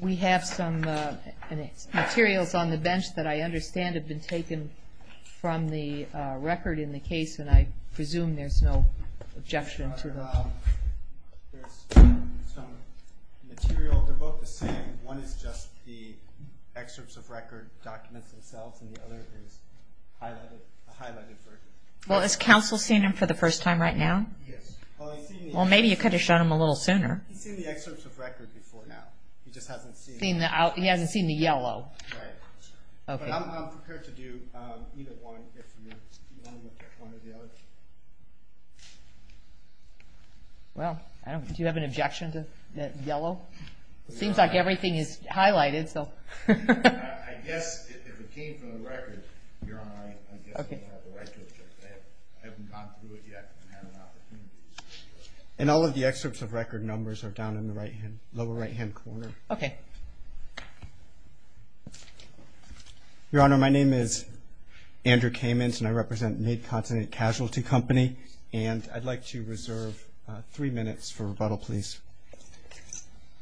We have some materials on the bench that I understand have been taken from the record in the case, and I presume there's no objection to them. There's some material. They're both the same. One is just the excerpts of record documents themselves, and the other is a highlighted version. Well, has counsel seen them for the first time right now? Yes. Well, maybe you could have shown them a little sooner. He's seen the excerpts of record before now. He just hasn't seen... He hasn't seen the yellow. Right. But I'm prepared to do either one if you want to look at one or the other. Well, do you have an objection to that yellow? It seems like everything is highlighted, so... I guess if it came from the record, your Honor, I guess you have the right to object. I haven't gone through it yet. And all of the excerpts of record numbers are down in the lower right-hand corner. Okay. Your Honor, my name is Andrew Kamens, and I represent Mid-Continent Casualty Company, and I'd like to reserve three minutes for rebuttal, please.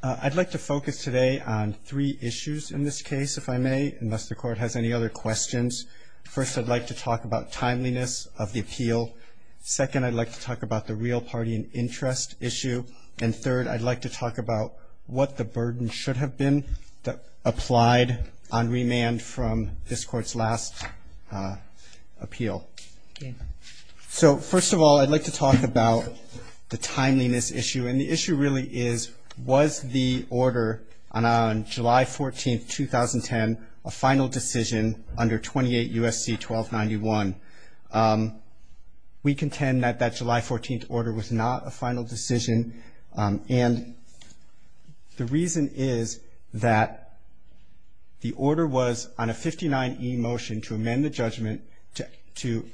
I'd like to focus today on three issues in this case, if I may, unless the Court has any other questions. First, I'd like to talk about timeliness of the appeal. Second, I'd like to talk about the real party and interest issue. And third, I'd like to talk about what the burden should have been applied on remand from this Court's last appeal. Okay. So first of all, I'd like to talk about the timeliness issue. And the issue really is, was the order on July 14th, 2010, a final decision under 28 U.S.C. 1291? We contend that that July 14th order was not a final decision. And the reason is that the order was on a 59E motion to amend the judgment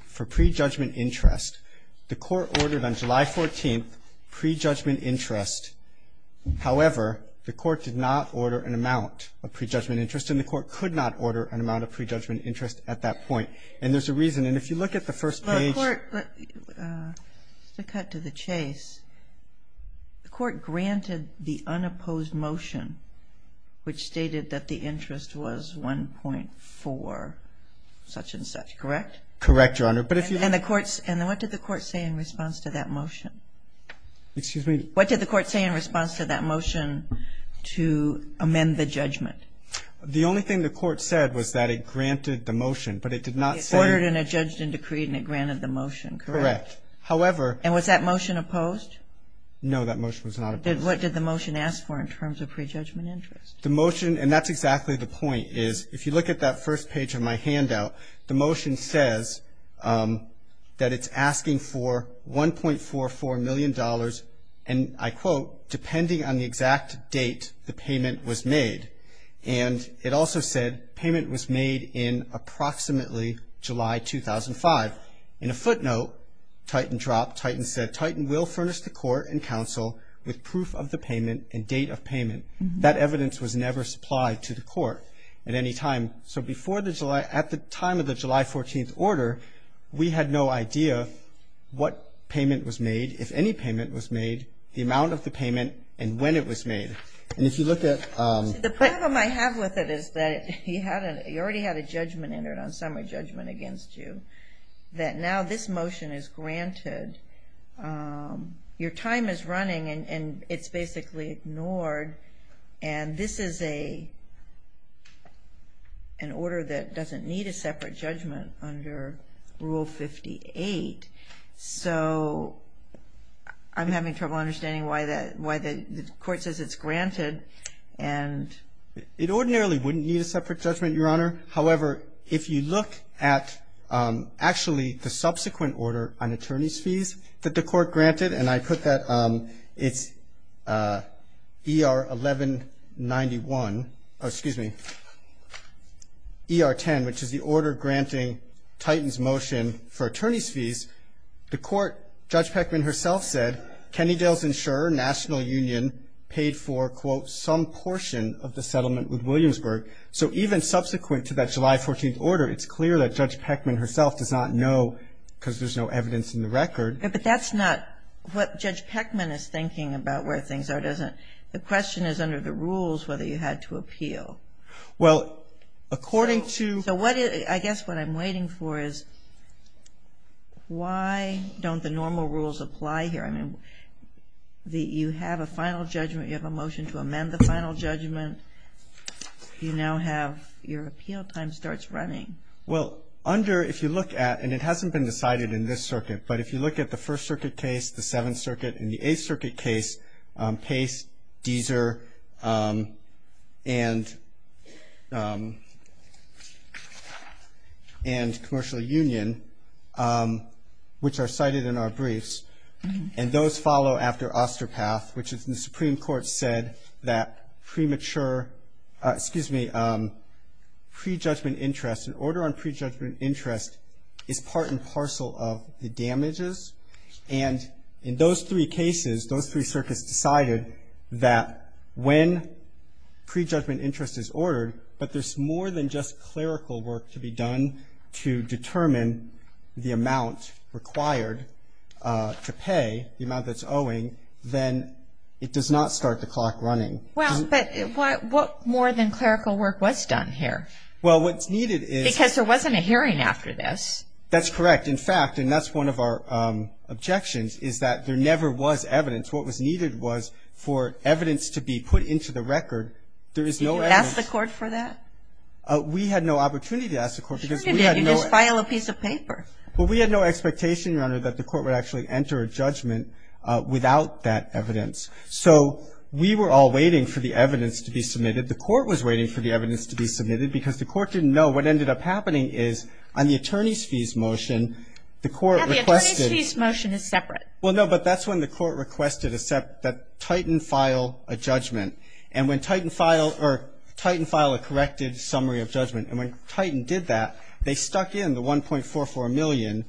for prejudgment interest. The Court ordered on July 14th prejudgment interest. However, the Court did not order an amount of prejudgment interest, and the Court could not order an amount of prejudgment interest at that point. And there's a reason. And if you look at the first page. The Court granted the unopposed motion, which stated that the interest was 1.4, such and such, correct? Correct, Your Honor. And what did the Court say in response to that motion? Excuse me? What did the Court say in response to that motion to amend the judgment? The only thing the Court said was that it granted the motion, but it did not say. It ordered and it judged and decreed and it granted the motion, correct? Correct. However. And was that motion opposed? No, that motion was not opposed. What did the motion ask for in terms of prejudgment interest? Well, the motion says that it's asking for $1.44 million, and I quote, depending on the exact date the payment was made. And it also said payment was made in approximately July 2005. In a footnote, Titan dropped, Titan said, Titan will furnish the Court and counsel with proof of the payment and date of payment. That evidence was never supplied to the Court at any time. So before the July, at the time of the July 14th order, we had no idea what payment was made, if any payment was made, the amount of the payment, and when it was made. And if you look at... See, the problem I have with it is that you already had a judgment entered on summary judgment against you, that now this motion is granted. Your time is running and it's basically ignored. And this is an order that doesn't need a separate judgment under Rule 58. So I'm having trouble understanding why the Court says it's granted and... It ordinarily wouldn't need a separate judgment, Your Honor. However, if you look at actually the subsequent order on attorney's fees that the Court granted, and I put that, it's ER 1191... Excuse me. ER 10, which is the order granting Titan's motion for attorney's fees, the Court, Judge Peckman herself said, Kennedale's insurer, National Union, paid for, quote, some portion of the settlement with Williamsburg. So even subsequent to that July 14th order, it's clear that Judge Peckman herself does not know because there's no evidence in the record. But that's not what Judge Peckman is thinking about where things are, does it? The question is under the rules whether you had to appeal. Well, according to... So what is... I guess what I'm waiting for is why don't the normal rules apply here? I mean, you have a final judgment. You have a motion to amend the final judgment. You now have your appeal time starts running. Well, under, if you look at, and it hasn't been decided in this circuit, but if you look at the First Circuit case, the Seventh Circuit, and the Eighth Circuit case, Pace, Deeser, and Commercial Union, which are cited in our briefs, and those follow after Osterpath, which the Supreme Court said that premature, excuse me, pre-judgment interest, an order on pre-judgment interest is part and parcel of the damages. And in those three cases, those three circuits decided that when pre-judgment interest is ordered, but there's more than just clerical work to be done to determine the amount required to pay, the amount that's owing, then it does not start the clock running. Well, but what more than clerical work was done here? Well, what's needed is. Because there wasn't a hearing after this. That's correct. In fact, and that's one of our objections, is that there never was evidence. What was needed was for evidence to be put into the record. There is no evidence. Did you ask the court for that? We had no opportunity to ask the court because we had no. Sure you did. You just filed a piece of paper. Well, we had no expectation, Your Honor, that the court would actually enter a judgment without that evidence. So we were all waiting for the evidence to be submitted. The court was waiting for the evidence to be submitted because the court didn't know what ended up happening is on the attorney's fees motion, the court requested. Yeah, the attorney's fees motion is separate. Well, no, but that's when the court requested that Titan file a judgment. And when Titan filed a corrected summary of judgment, and when Titan did that, they stuck in the $1.44 million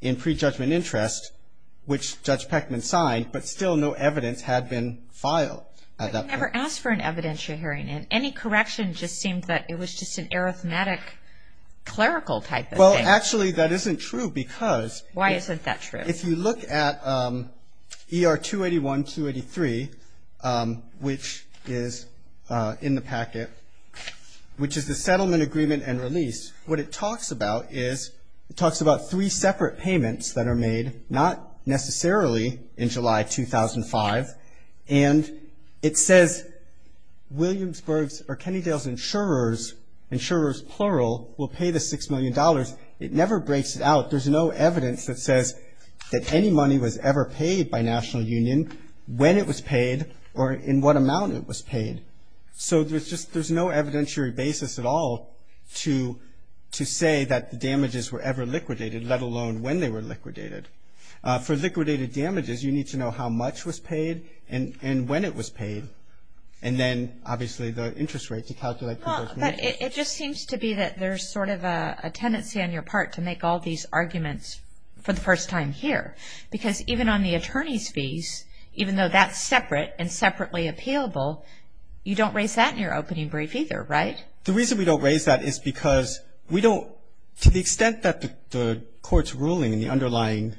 in pre-judgment interest, which Judge Peckman signed, but still no evidence had been filed at that point. But you never asked for an evidence, Your Honor, and any correction just seemed that it was just an arithmetic clerical type of thing. Well, actually, that isn't true because if you look at ER 281, 283, which is in the packet, which is the settlement agreement and release, what it talks about is it talks about three separate payments that are made, not necessarily in July 2005, and it says Williamsburg's or Kennedale's insurers, insurers plural, will pay the $6 million. It never breaks it out. There's no evidence that says that any money was ever paid by National Union, when it was paid, or in what amount it was paid. So there's just no evidentiary basis at all to say that the damages were ever liquidated, let alone when they were liquidated. For liquidated damages, you need to know how much was paid and when it was paid, and then obviously the interest rate to calculate conversion interest. But it just seems to be that there's sort of a tendency on your part to make all these arguments for the first time here because even on the attorney's fees, even though that's separate and separately appealable, you don't raise that in your opening brief either, right? The reason we don't raise that is because we don't, to the extent that the court's ruling and the underlying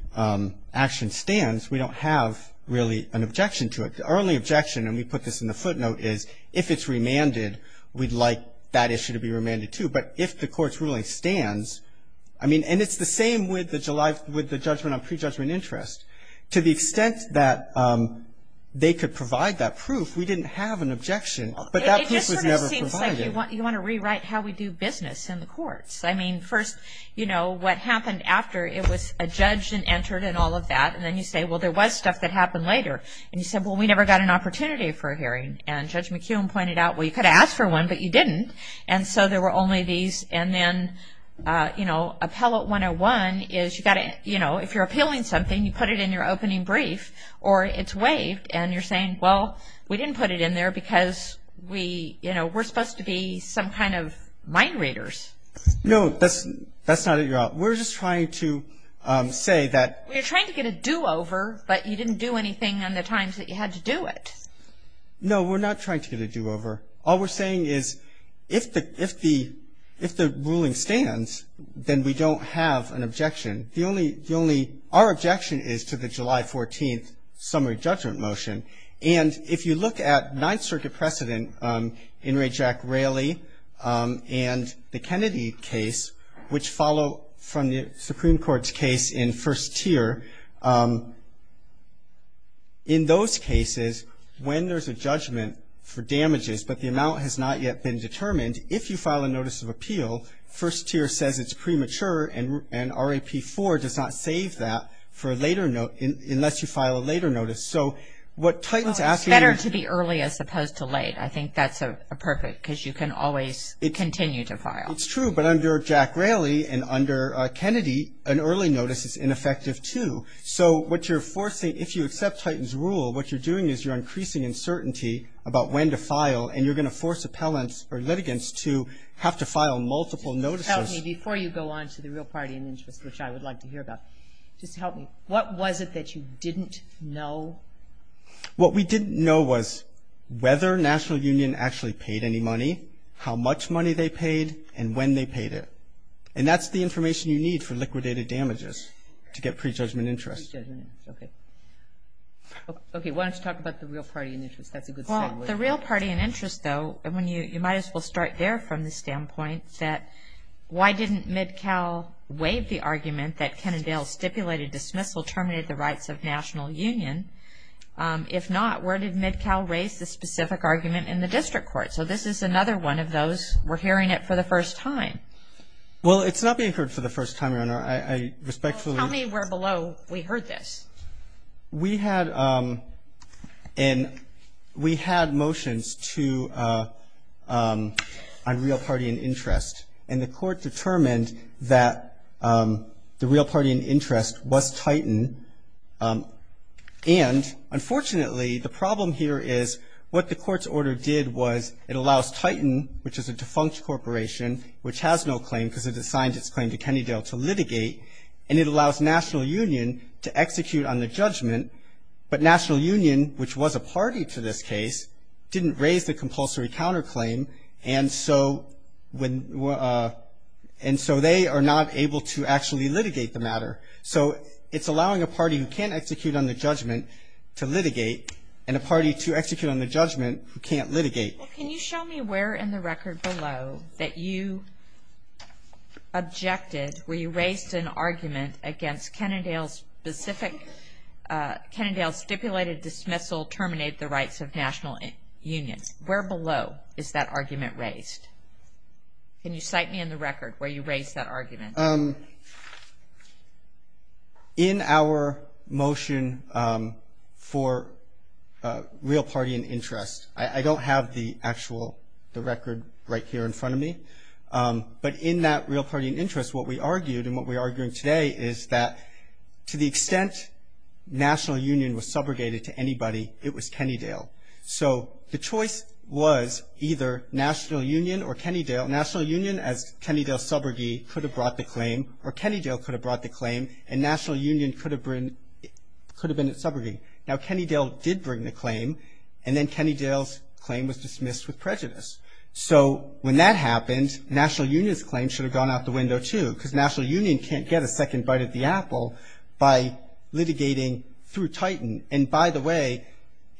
action stands, we don't have really an objection to it. The only objection, and we put this in the footnote, is if it's remanded, we'd like that issue to be remanded too. But if the court's ruling stands, I mean, and it's the same with the judgment on prejudgment interest, to the extent that they could provide that proof, we didn't have an objection, but that proof was never provided. You want to rewrite how we do business in the courts. I mean, first, you know, what happened after it was adjudged and entered and all of that, and then you say, well, there was stuff that happened later. And you said, well, we never got an opportunity for a hearing. And Judge McKeown pointed out, well, you could have asked for one, but you didn't. And so there were only these. And then, you know, Appellate 101 is you've got to, you know, if you're appealing something, you put it in your opening brief or it's waived, and you're saying, well, we didn't put it in there because we, you know, we're supposed to be some kind of mind readers. No, that's not it at all. We're just trying to say that. We're trying to get a do-over, but you didn't do anything on the times that you had to do it. No, we're not trying to get a do-over. All we're saying is if the ruling stands, then we don't have an objection. The only, our objection is to the July 14th summary judgment motion. And if you look at Ninth Circuit precedent in Ray Jack Rayleigh and the Kennedy case, which follow from the Supreme Court's case in first tier, in those cases, when there's a judgment for damages but the amount has not yet been determined, if you file a notice of appeal, first tier says it's premature, and RAP4 does not save that for a later, unless you file a later notice. So what Titan's asking you to do. Well, it's better to be early as opposed to late. I think that's a perfect, because you can always continue to file. It's true, but under Jack Rayleigh and under Kennedy, an early notice is ineffective too. So what you're forcing, if you accept Titan's rule, what you're doing is you're increasing uncertainty about when to file, and you're going to force appellants or litigants to have to file multiple notices. Help me before you go on to the real party in interest, which I would like to hear about. Just help me. What was it that you didn't know? What we didn't know was whether National Union actually paid any money, how much money they paid, and when they paid it. And that's the information you need for liquidated damages, to get prejudgment interest. Prejudgment interest, okay. Okay, why don't you talk about the real party in interest. That's a good segue. Well, the real party in interest, though, you might as well start there from the standpoint that, why didn't MidCal waive the argument that Kennedale's stipulated dismissal terminated the rights of National Union? If not, where did MidCal raise the specific argument in the district court? So this is another one of those, we're hearing it for the first time. Well, it's not being heard for the first time, Your Honor. I respectfully. Tell me where below we heard this. We had motions to a real party in interest, and the court determined that the real party in interest was Titan. And, unfortunately, the problem here is what the court's order did was it allows Titan, which is a defunct corporation, which has no claim because it assigned its claim to Kennedale to litigate, and it allows National Union to execute on the judgment. But National Union, which was a party to this case, didn't raise the compulsory counterclaim. And so they are not able to actually litigate the matter. So it's allowing a party who can't execute on the judgment to litigate, and a party to execute on the judgment who can't litigate. Well, can you show me where in the record below that you objected, where you raised an argument against Kennedale's stipulated dismissal terminate the rights of National Union? Where below is that argument raised? Can you cite me in the record where you raised that argument? In our motion for real party in interest, I don't have the actual record right here in front of me, but in that real party in interest, what we argued and what we're arguing today is that to the extent National Union was subrogated to anybody, it was Kennedale. So the choice was either National Union or Kennedale. National Union, as Kennedale's subrogate, could have brought the claim, or Kennedale could have brought the claim, and National Union could have been its subrogate. Now, Kennedale did bring the claim, and then Kennedale's claim was dismissed with prejudice. So when that happened, National Union's claim should have gone out the window too, because National Union can't get a second bite of the apple by litigating through Titan. And by the way,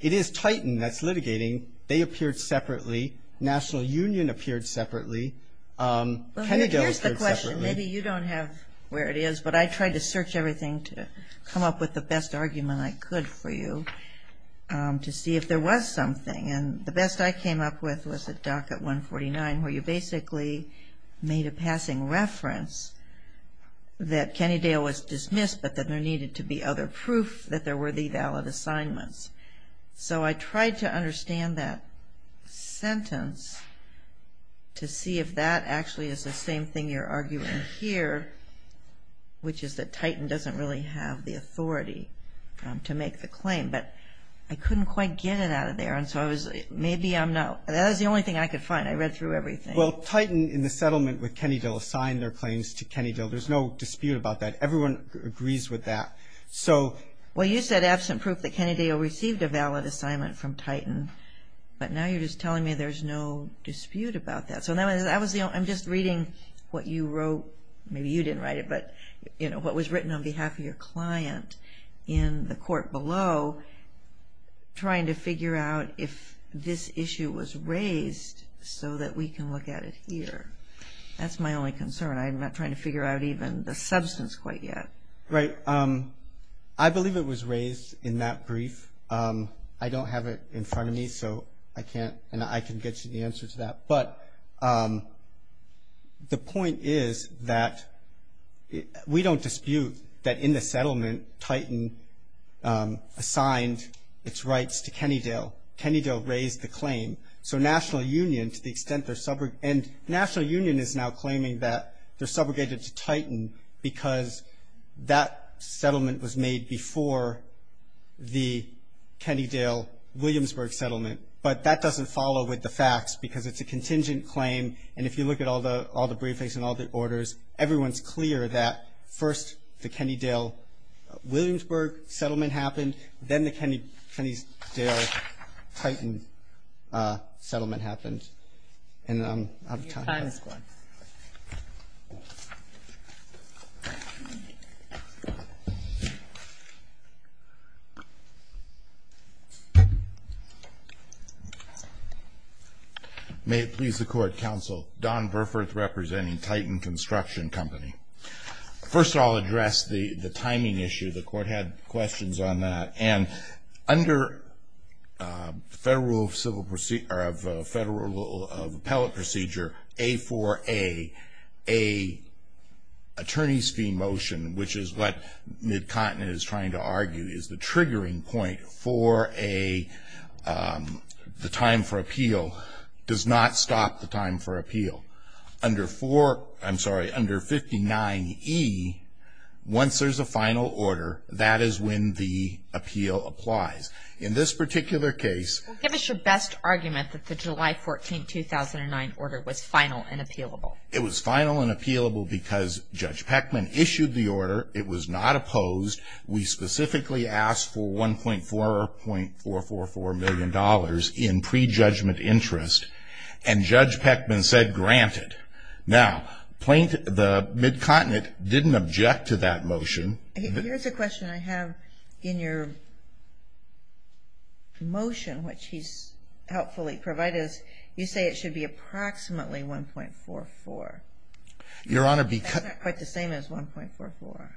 it is Titan that's litigating. They appeared separately. Kennedale appeared separately. Well, here's the question. Maybe you don't have where it is, but I tried to search everything to come up with the best argument I could for you to see if there was something. And the best I came up with was at docket 149, where you basically made a passing reference that Kennedale was dismissed, but that there needed to be other proof that there were the valid assignments. So I tried to understand that sentence to see if that actually is the same thing you're arguing here, which is that Titan doesn't really have the authority to make the claim. But I couldn't quite get it out of there, and so maybe I'm not. That was the only thing I could find. I read through everything. Well, Titan in the settlement with Kennedale assigned their claims to Kennedale. There's no dispute about that. Everyone agrees with that. Well, you said absent proof that Kennedale received a valid assignment from Titan, but now you're just telling me there's no dispute about that. So I'm just reading what you wrote. Maybe you didn't write it, but what was written on behalf of your client in the court below, trying to figure out if this issue was raised so that we can look at it here. That's my only concern. I'm not trying to figure out even the substance quite yet. Right. I believe it was raised in that brief. I don't have it in front of me, and I can get you the answer to that. But the point is that we don't dispute that in the settlement Titan assigned its rights to Kennedale. Kennedale raised the claim. So National Union, to the extent they're sub- and National Union is now claiming that they're subjugated to Titan because that settlement was made before the Kennedale-Williamsburg settlement. But that doesn't follow with the facts because it's a contingent claim, and if you look at all the briefings and all the orders, everyone's clear that first the Kennedale-Williamsburg settlement happened, then the Kennedale-Titan settlement happened. And I'm- Your time is up. May it please the Court, Counsel. Don Burforth representing Titan Construction Company. First, I'll address the timing issue. The Court had questions on that. And under Federal Rule of Appellate Procedure, A4A, a attorney's fee motion, which is what Mid-Continent is trying to argue, is the triggering point for the time for appeal, does not stop the time for appeal. Under 49E, once there's a final order, that is when the appeal applies. In this particular case- Give us your best argument that the July 14, 2009 order was final and appealable. It was final and appealable because Judge Peckman issued the order. It was not opposed. We specifically asked for $1.44 million in prejudgment interest, and Judge Peckman said granted. Now, the Mid-Continent didn't object to that motion. Here's a question I have. In your motion, which he's helpfully provided, you say it should be approximately $1.44. Your Honor, because- That's not quite the same as $1.44.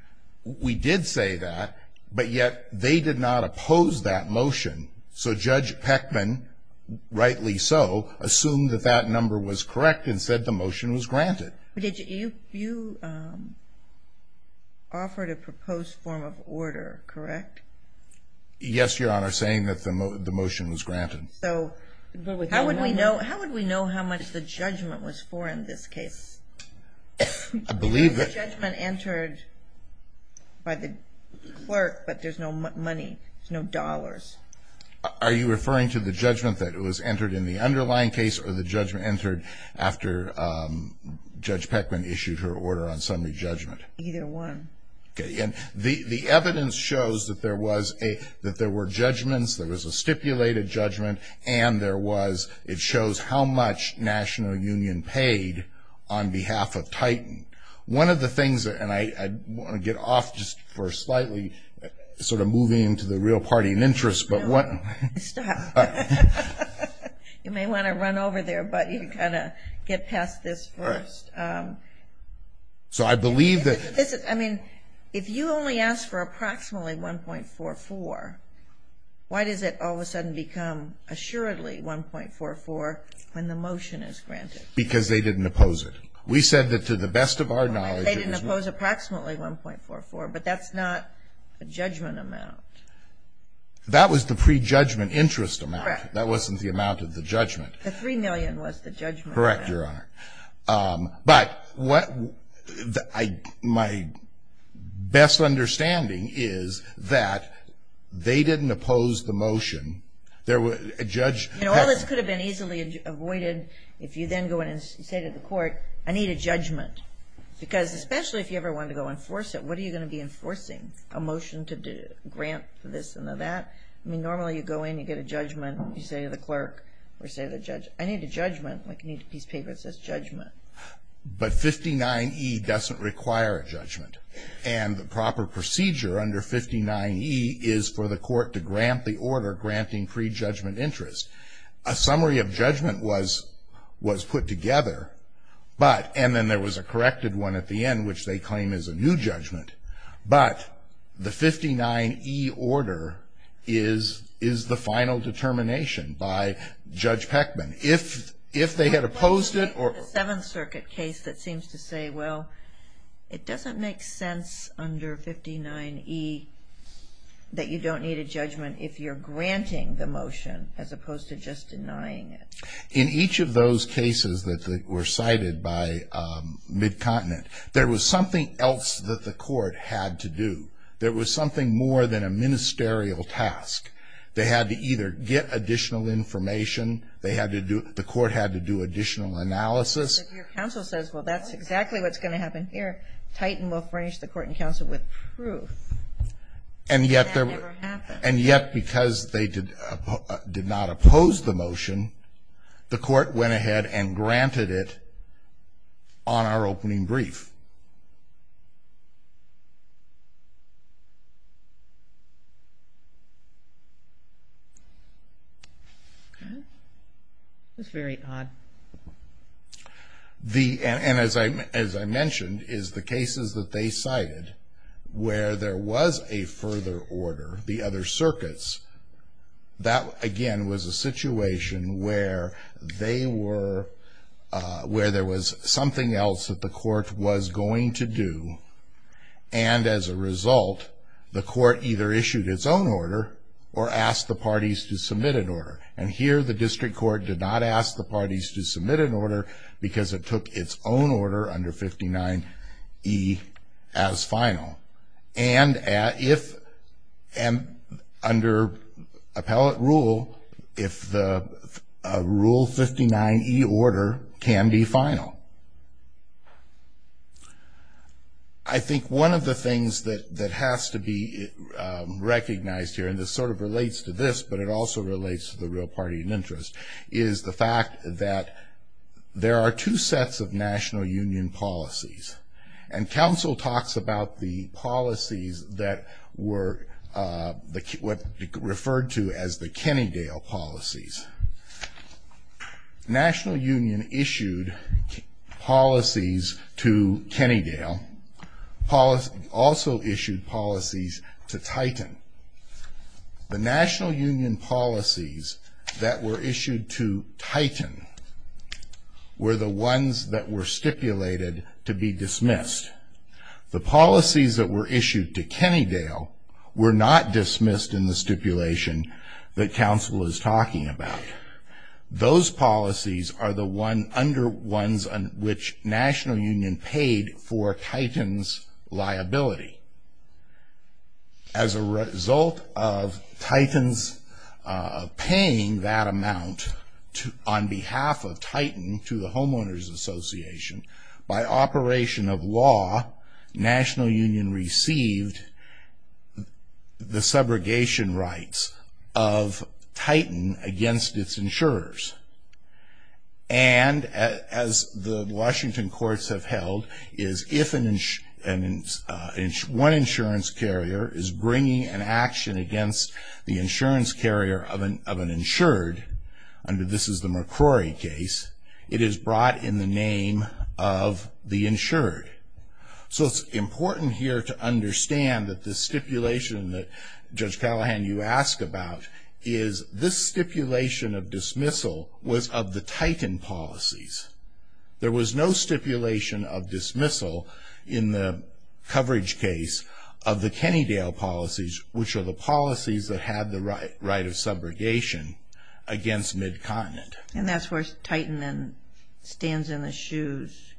We did say that, but yet they did not oppose that motion. So Judge Peckman, rightly so, assumed that that number was correct and said the motion was granted. You offered a proposed form of order, correct? Yes, Your Honor, saying that the motion was granted. So how would we know how much the judgment was for in this case? I believe that- Are you referring to the judgment that was entered in the underlying case or the judgment entered after Judge Peckman issued her order on summary judgment? Either one. Okay. And the evidence shows that there were judgments, there was a stipulated judgment, and it shows how much National Union paid on behalf of Titan. One of the things, and I want to get off just for slightly sort of moving into the real party and interest, but what- Stop. You may want to run over there, but you've got to get past this first. So I believe that- I mean, if you only ask for approximately $1.44, why does it all of a sudden become assuredly $1.44 when the motion is granted? Because they didn't oppose it. We said that to the best of our knowledge- They didn't oppose approximately $1.44, but that's not a judgment amount. That was the pre-judgment interest amount. Correct. That wasn't the amount of the judgment. The $3 million was the judgment amount. Correct, Your Honor. But my best understanding is that they didn't oppose the motion. Judge Peckman- All this could have been easily avoided if you then go in and say to the court, I need a judgment, because especially if you ever wanted to go enforce it, what are you going to be enforcing? A motion to grant this and that? I mean, normally you go in, you get a judgment, you say to the clerk, or say to the judge, I need a judgment. I need a piece of paper that says judgment. But 59E doesn't require a judgment, and the proper procedure under 59E is for the court to grant the order, granting pre-judgment interest. A summary of judgment was put together, but- But the 59E order is the final determination by Judge Peckman. If they had opposed it- The Seventh Circuit case that seems to say, well, it doesn't make sense under 59E that you don't need a judgment if you're granting the motion as opposed to just denying it. In each of those cases that were cited by Mid-Continent, there was something else that the court had to do. There was something more than a ministerial task. They had to either get additional information, the court had to do additional analysis. If your counsel says, well, that's exactly what's going to happen here, Titan will furnish the court and counsel with proof that that never happened. And yet because they did not oppose the motion, the court went ahead and granted it on our opening brief. That's very odd. And as I mentioned, is the cases that they cited, where there was a further order, the other circuits, that again was a situation where they were- where there was something else that the court was going to do. And as a result, the court either issued its own order or asked the parties to submit an order. And here the district court did not ask the parties to submit an order because it took its own order under 59E as final. And if under appellate rule, if the Rule 59E order can be final. I think one of the things that has to be recognized here, and this sort of relates to this, but it also relates to the real party in interest, is the fact that there are two sets of national union policies. And council talks about the policies that were referred to as the Kennedale policies. National union issued policies to Kennedale, also issued policies to Titan. Were the ones that were stipulated to be dismissed. The policies that were issued to Kennedale were not dismissed in the stipulation that council is talking about. Those policies are the one under ones which national union paid for Titan's liability. As a result of Titan's paying that amount on behalf of Titan to the Homeowners Association, by operation of law, national union received the subrogation rights of Titan against its insurers. And as the Washington courts have held, is if one insurance carrier is bringing an action against the insurance carrier of an insured, under this is the McCrory case, it is brought in the name of the insured. So it's important here to understand that the stipulation that Judge Callahan you ask about is this stipulation of dismissal was of the Titan policies. There was no stipulation of dismissal in the coverage case of the Kennedale policies, which are the policies that had the right of subrogation against mid-continent. And that's where Titan then stands in the shoes.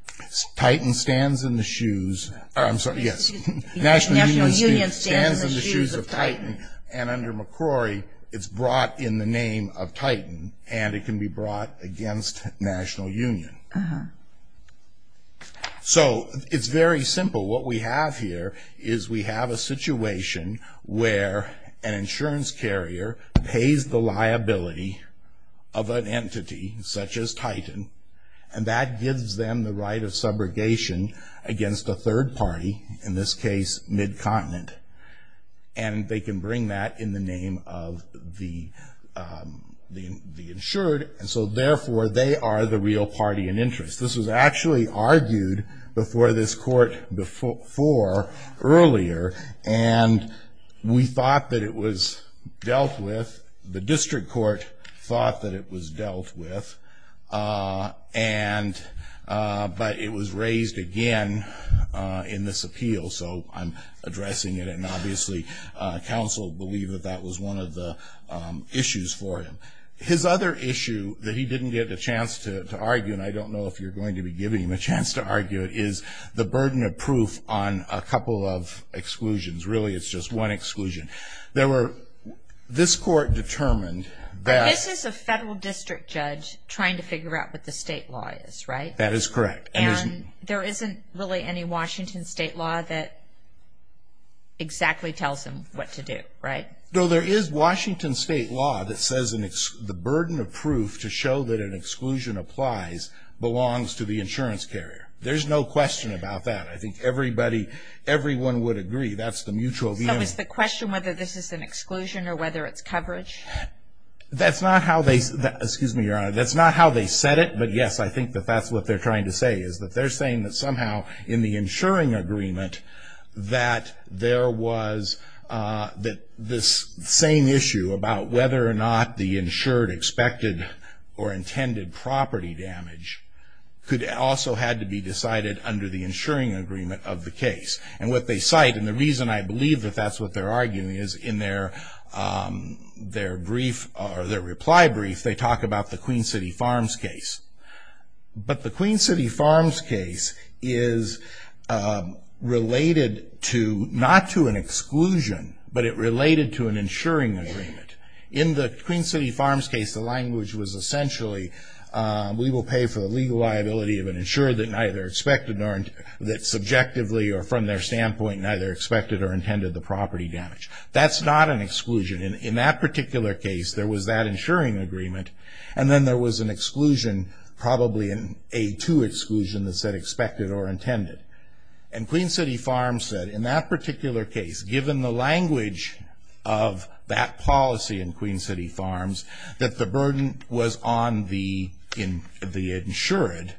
Titan stands in the shoes, or I'm sorry, yes. National union stands in the shoes of Titan. And under McCrory, it's brought in the name of Titan and it can be brought against national union. Uh-huh. So it's very simple. What we have here is we have a situation where an insurance carrier pays the liability of an entity, such as Titan, and that gives them the right of subrogation against a third party, in this case, mid-continent. And they can bring that in the name of the insured, and so therefore they are the real party in interest. This was actually argued before this court before earlier, and we thought that it was dealt with, the district court thought that it was dealt with, but it was raised again in this appeal, so I'm addressing it, and obviously counsel believed that that was one of the issues for him. His other issue that he didn't get a chance to argue, and I don't know if you're going to be giving him a chance to argue it, is the burden of proof on a couple of exclusions. Really, it's just one exclusion. This court determined that... This is a federal district judge trying to figure out what the state law is, right? That is correct. And there isn't really any Washington state law that exactly tells him what to do, right? No, there is Washington state law that says the burden of proof to show that an exclusion applies belongs to the insurance carrier. There's no question about that. I think everyone would agree that's the mutual view. So is the question whether this is an exclusion or whether it's coverage? That's not how they said it, but yes, I think that that's what they're trying to say, is that they're saying that somehow in the insuring agreement that there was this same issue about whether or not the insured expected or intended property damage also had to be decided under the insuring agreement of the case. And what they cite, and the reason I believe that that's what they're arguing, is in their reply brief they talk about the Queen City Farms case. But the Queen City Farms case is related to, not to an exclusion, but it related to an insuring agreement. In the Queen City Farms case, the language was essentially, we will pay for the legal liability of an insured that neither expected or that subjectively or from their standpoint neither expected or intended the property damage. That's not an exclusion. In that particular case, there was that insuring agreement, and then there was an exclusion, probably an A2 exclusion that said expected or intended. And Queen City Farms said in that particular case, given the language of that policy in Queen City Farms, that the burden was on the insured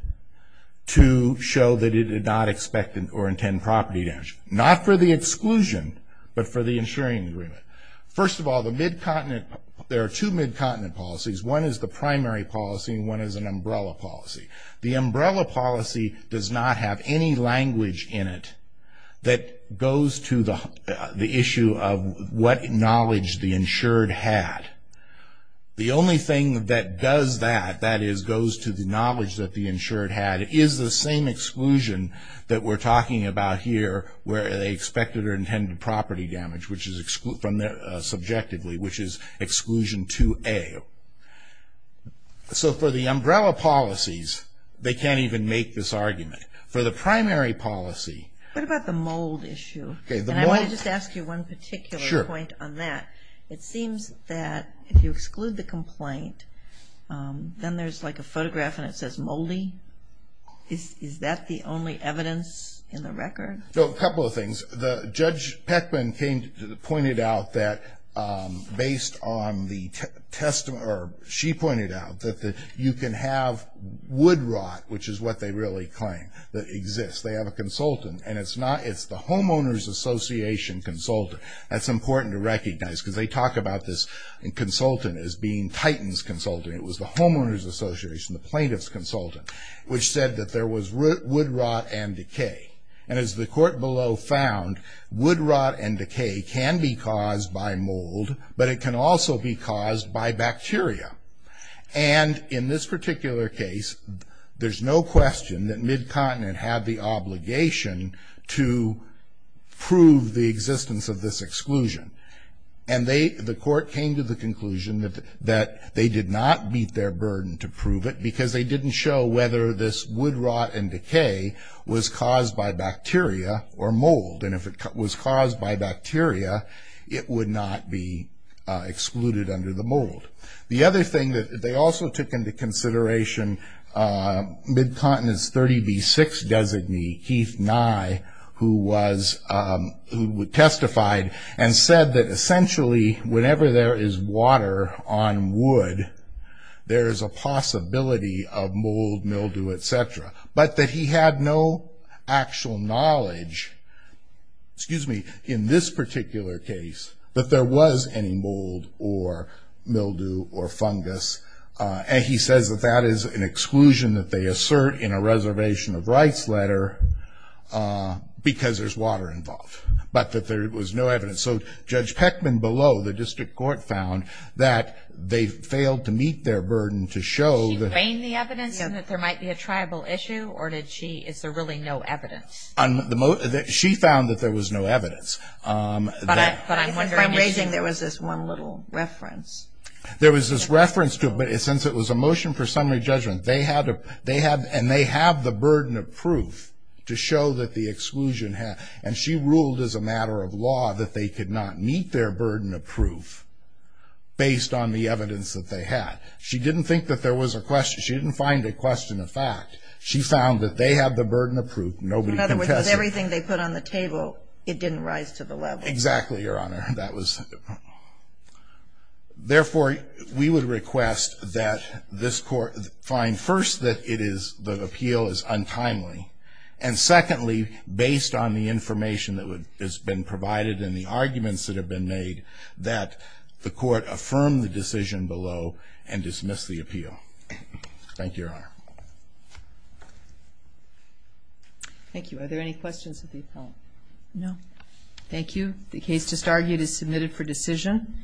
to show that it did not expect or intend property damage. Not for the exclusion, but for the insuring agreement. First of all, the mid-continent, there are two mid-continent policies. One is the primary policy and one is an umbrella policy. The umbrella policy does not have any language in it that goes to the issue of what knowledge the insured had. The only thing that does that, that is goes to the knowledge that the insured had, is the same exclusion that we're talking about here where they expected or intended property damage, which is subjectively, which is exclusion 2A. So for the umbrella policies, they can't even make this argument. For the primary policy. What about the mold issue? And I want to just ask you one particular point on that. It seems that if you exclude the complaint, then there's like a photograph and it says moldy. Is that the only evidence in the record? A couple of things. The Judge Peckman pointed out that based on the testimony, or she pointed out that you can have wood rot, which is what they really claim, that exists. They have a consultant, and it's the Homeowners Association consultant. That's important to recognize because they talk about this consultant as being Titan's consultant. It was the Homeowners Association, the plaintiff's consultant, which said that there was wood rot and decay. And as the court below found, wood rot and decay can be caused by mold, but it can also be caused by bacteria. And in this particular case, there's no question that Mid-Continent had the obligation to prove the existence of this exclusion. And the court came to the conclusion that they did not meet their burden to prove it was caused by bacteria or mold. And if it was caused by bacteria, it would not be excluded under the mold. The other thing that they also took into consideration, Mid-Continent's 30B6 designee, Keith Nye, who testified and said that essentially whenever there is water on wood, there's a possibility of mold, mildew, et cetera. But that he had no actual knowledge, excuse me, in this particular case that there was any mold or mildew or fungus. And he says that that is an exclusion that they assert in a reservation of rights letter because there's water involved, but that there was no evidence. So Judge Peckman below the district court found that they failed to meet their burden to show that and that there might be a tribal issue, or is there really no evidence? She found that there was no evidence. But I'm wondering if there was this one little reference. There was this reference to it, but since it was a motion for summary judgment, and they have the burden of proof to show that the exclusion, and she ruled as a matter of law that they could not meet their burden of proof based on the evidence that they had. She didn't think that there was a question. She didn't find a question of fact. She found that they had the burden of proof. Nobody contested it. In other words, with everything they put on the table, it didn't rise to the level. Exactly, Your Honor. That was the point. Therefore, we would request that this court find first that it is the appeal is untimely, and secondly, based on the information that has been provided and the arguments that have been made, that the court affirm the decision below and dismiss the appeal. Thank you, Your Honor. Thank you. Are there any questions of the appellant? No. Thank you. The case just argued is submitted for decision.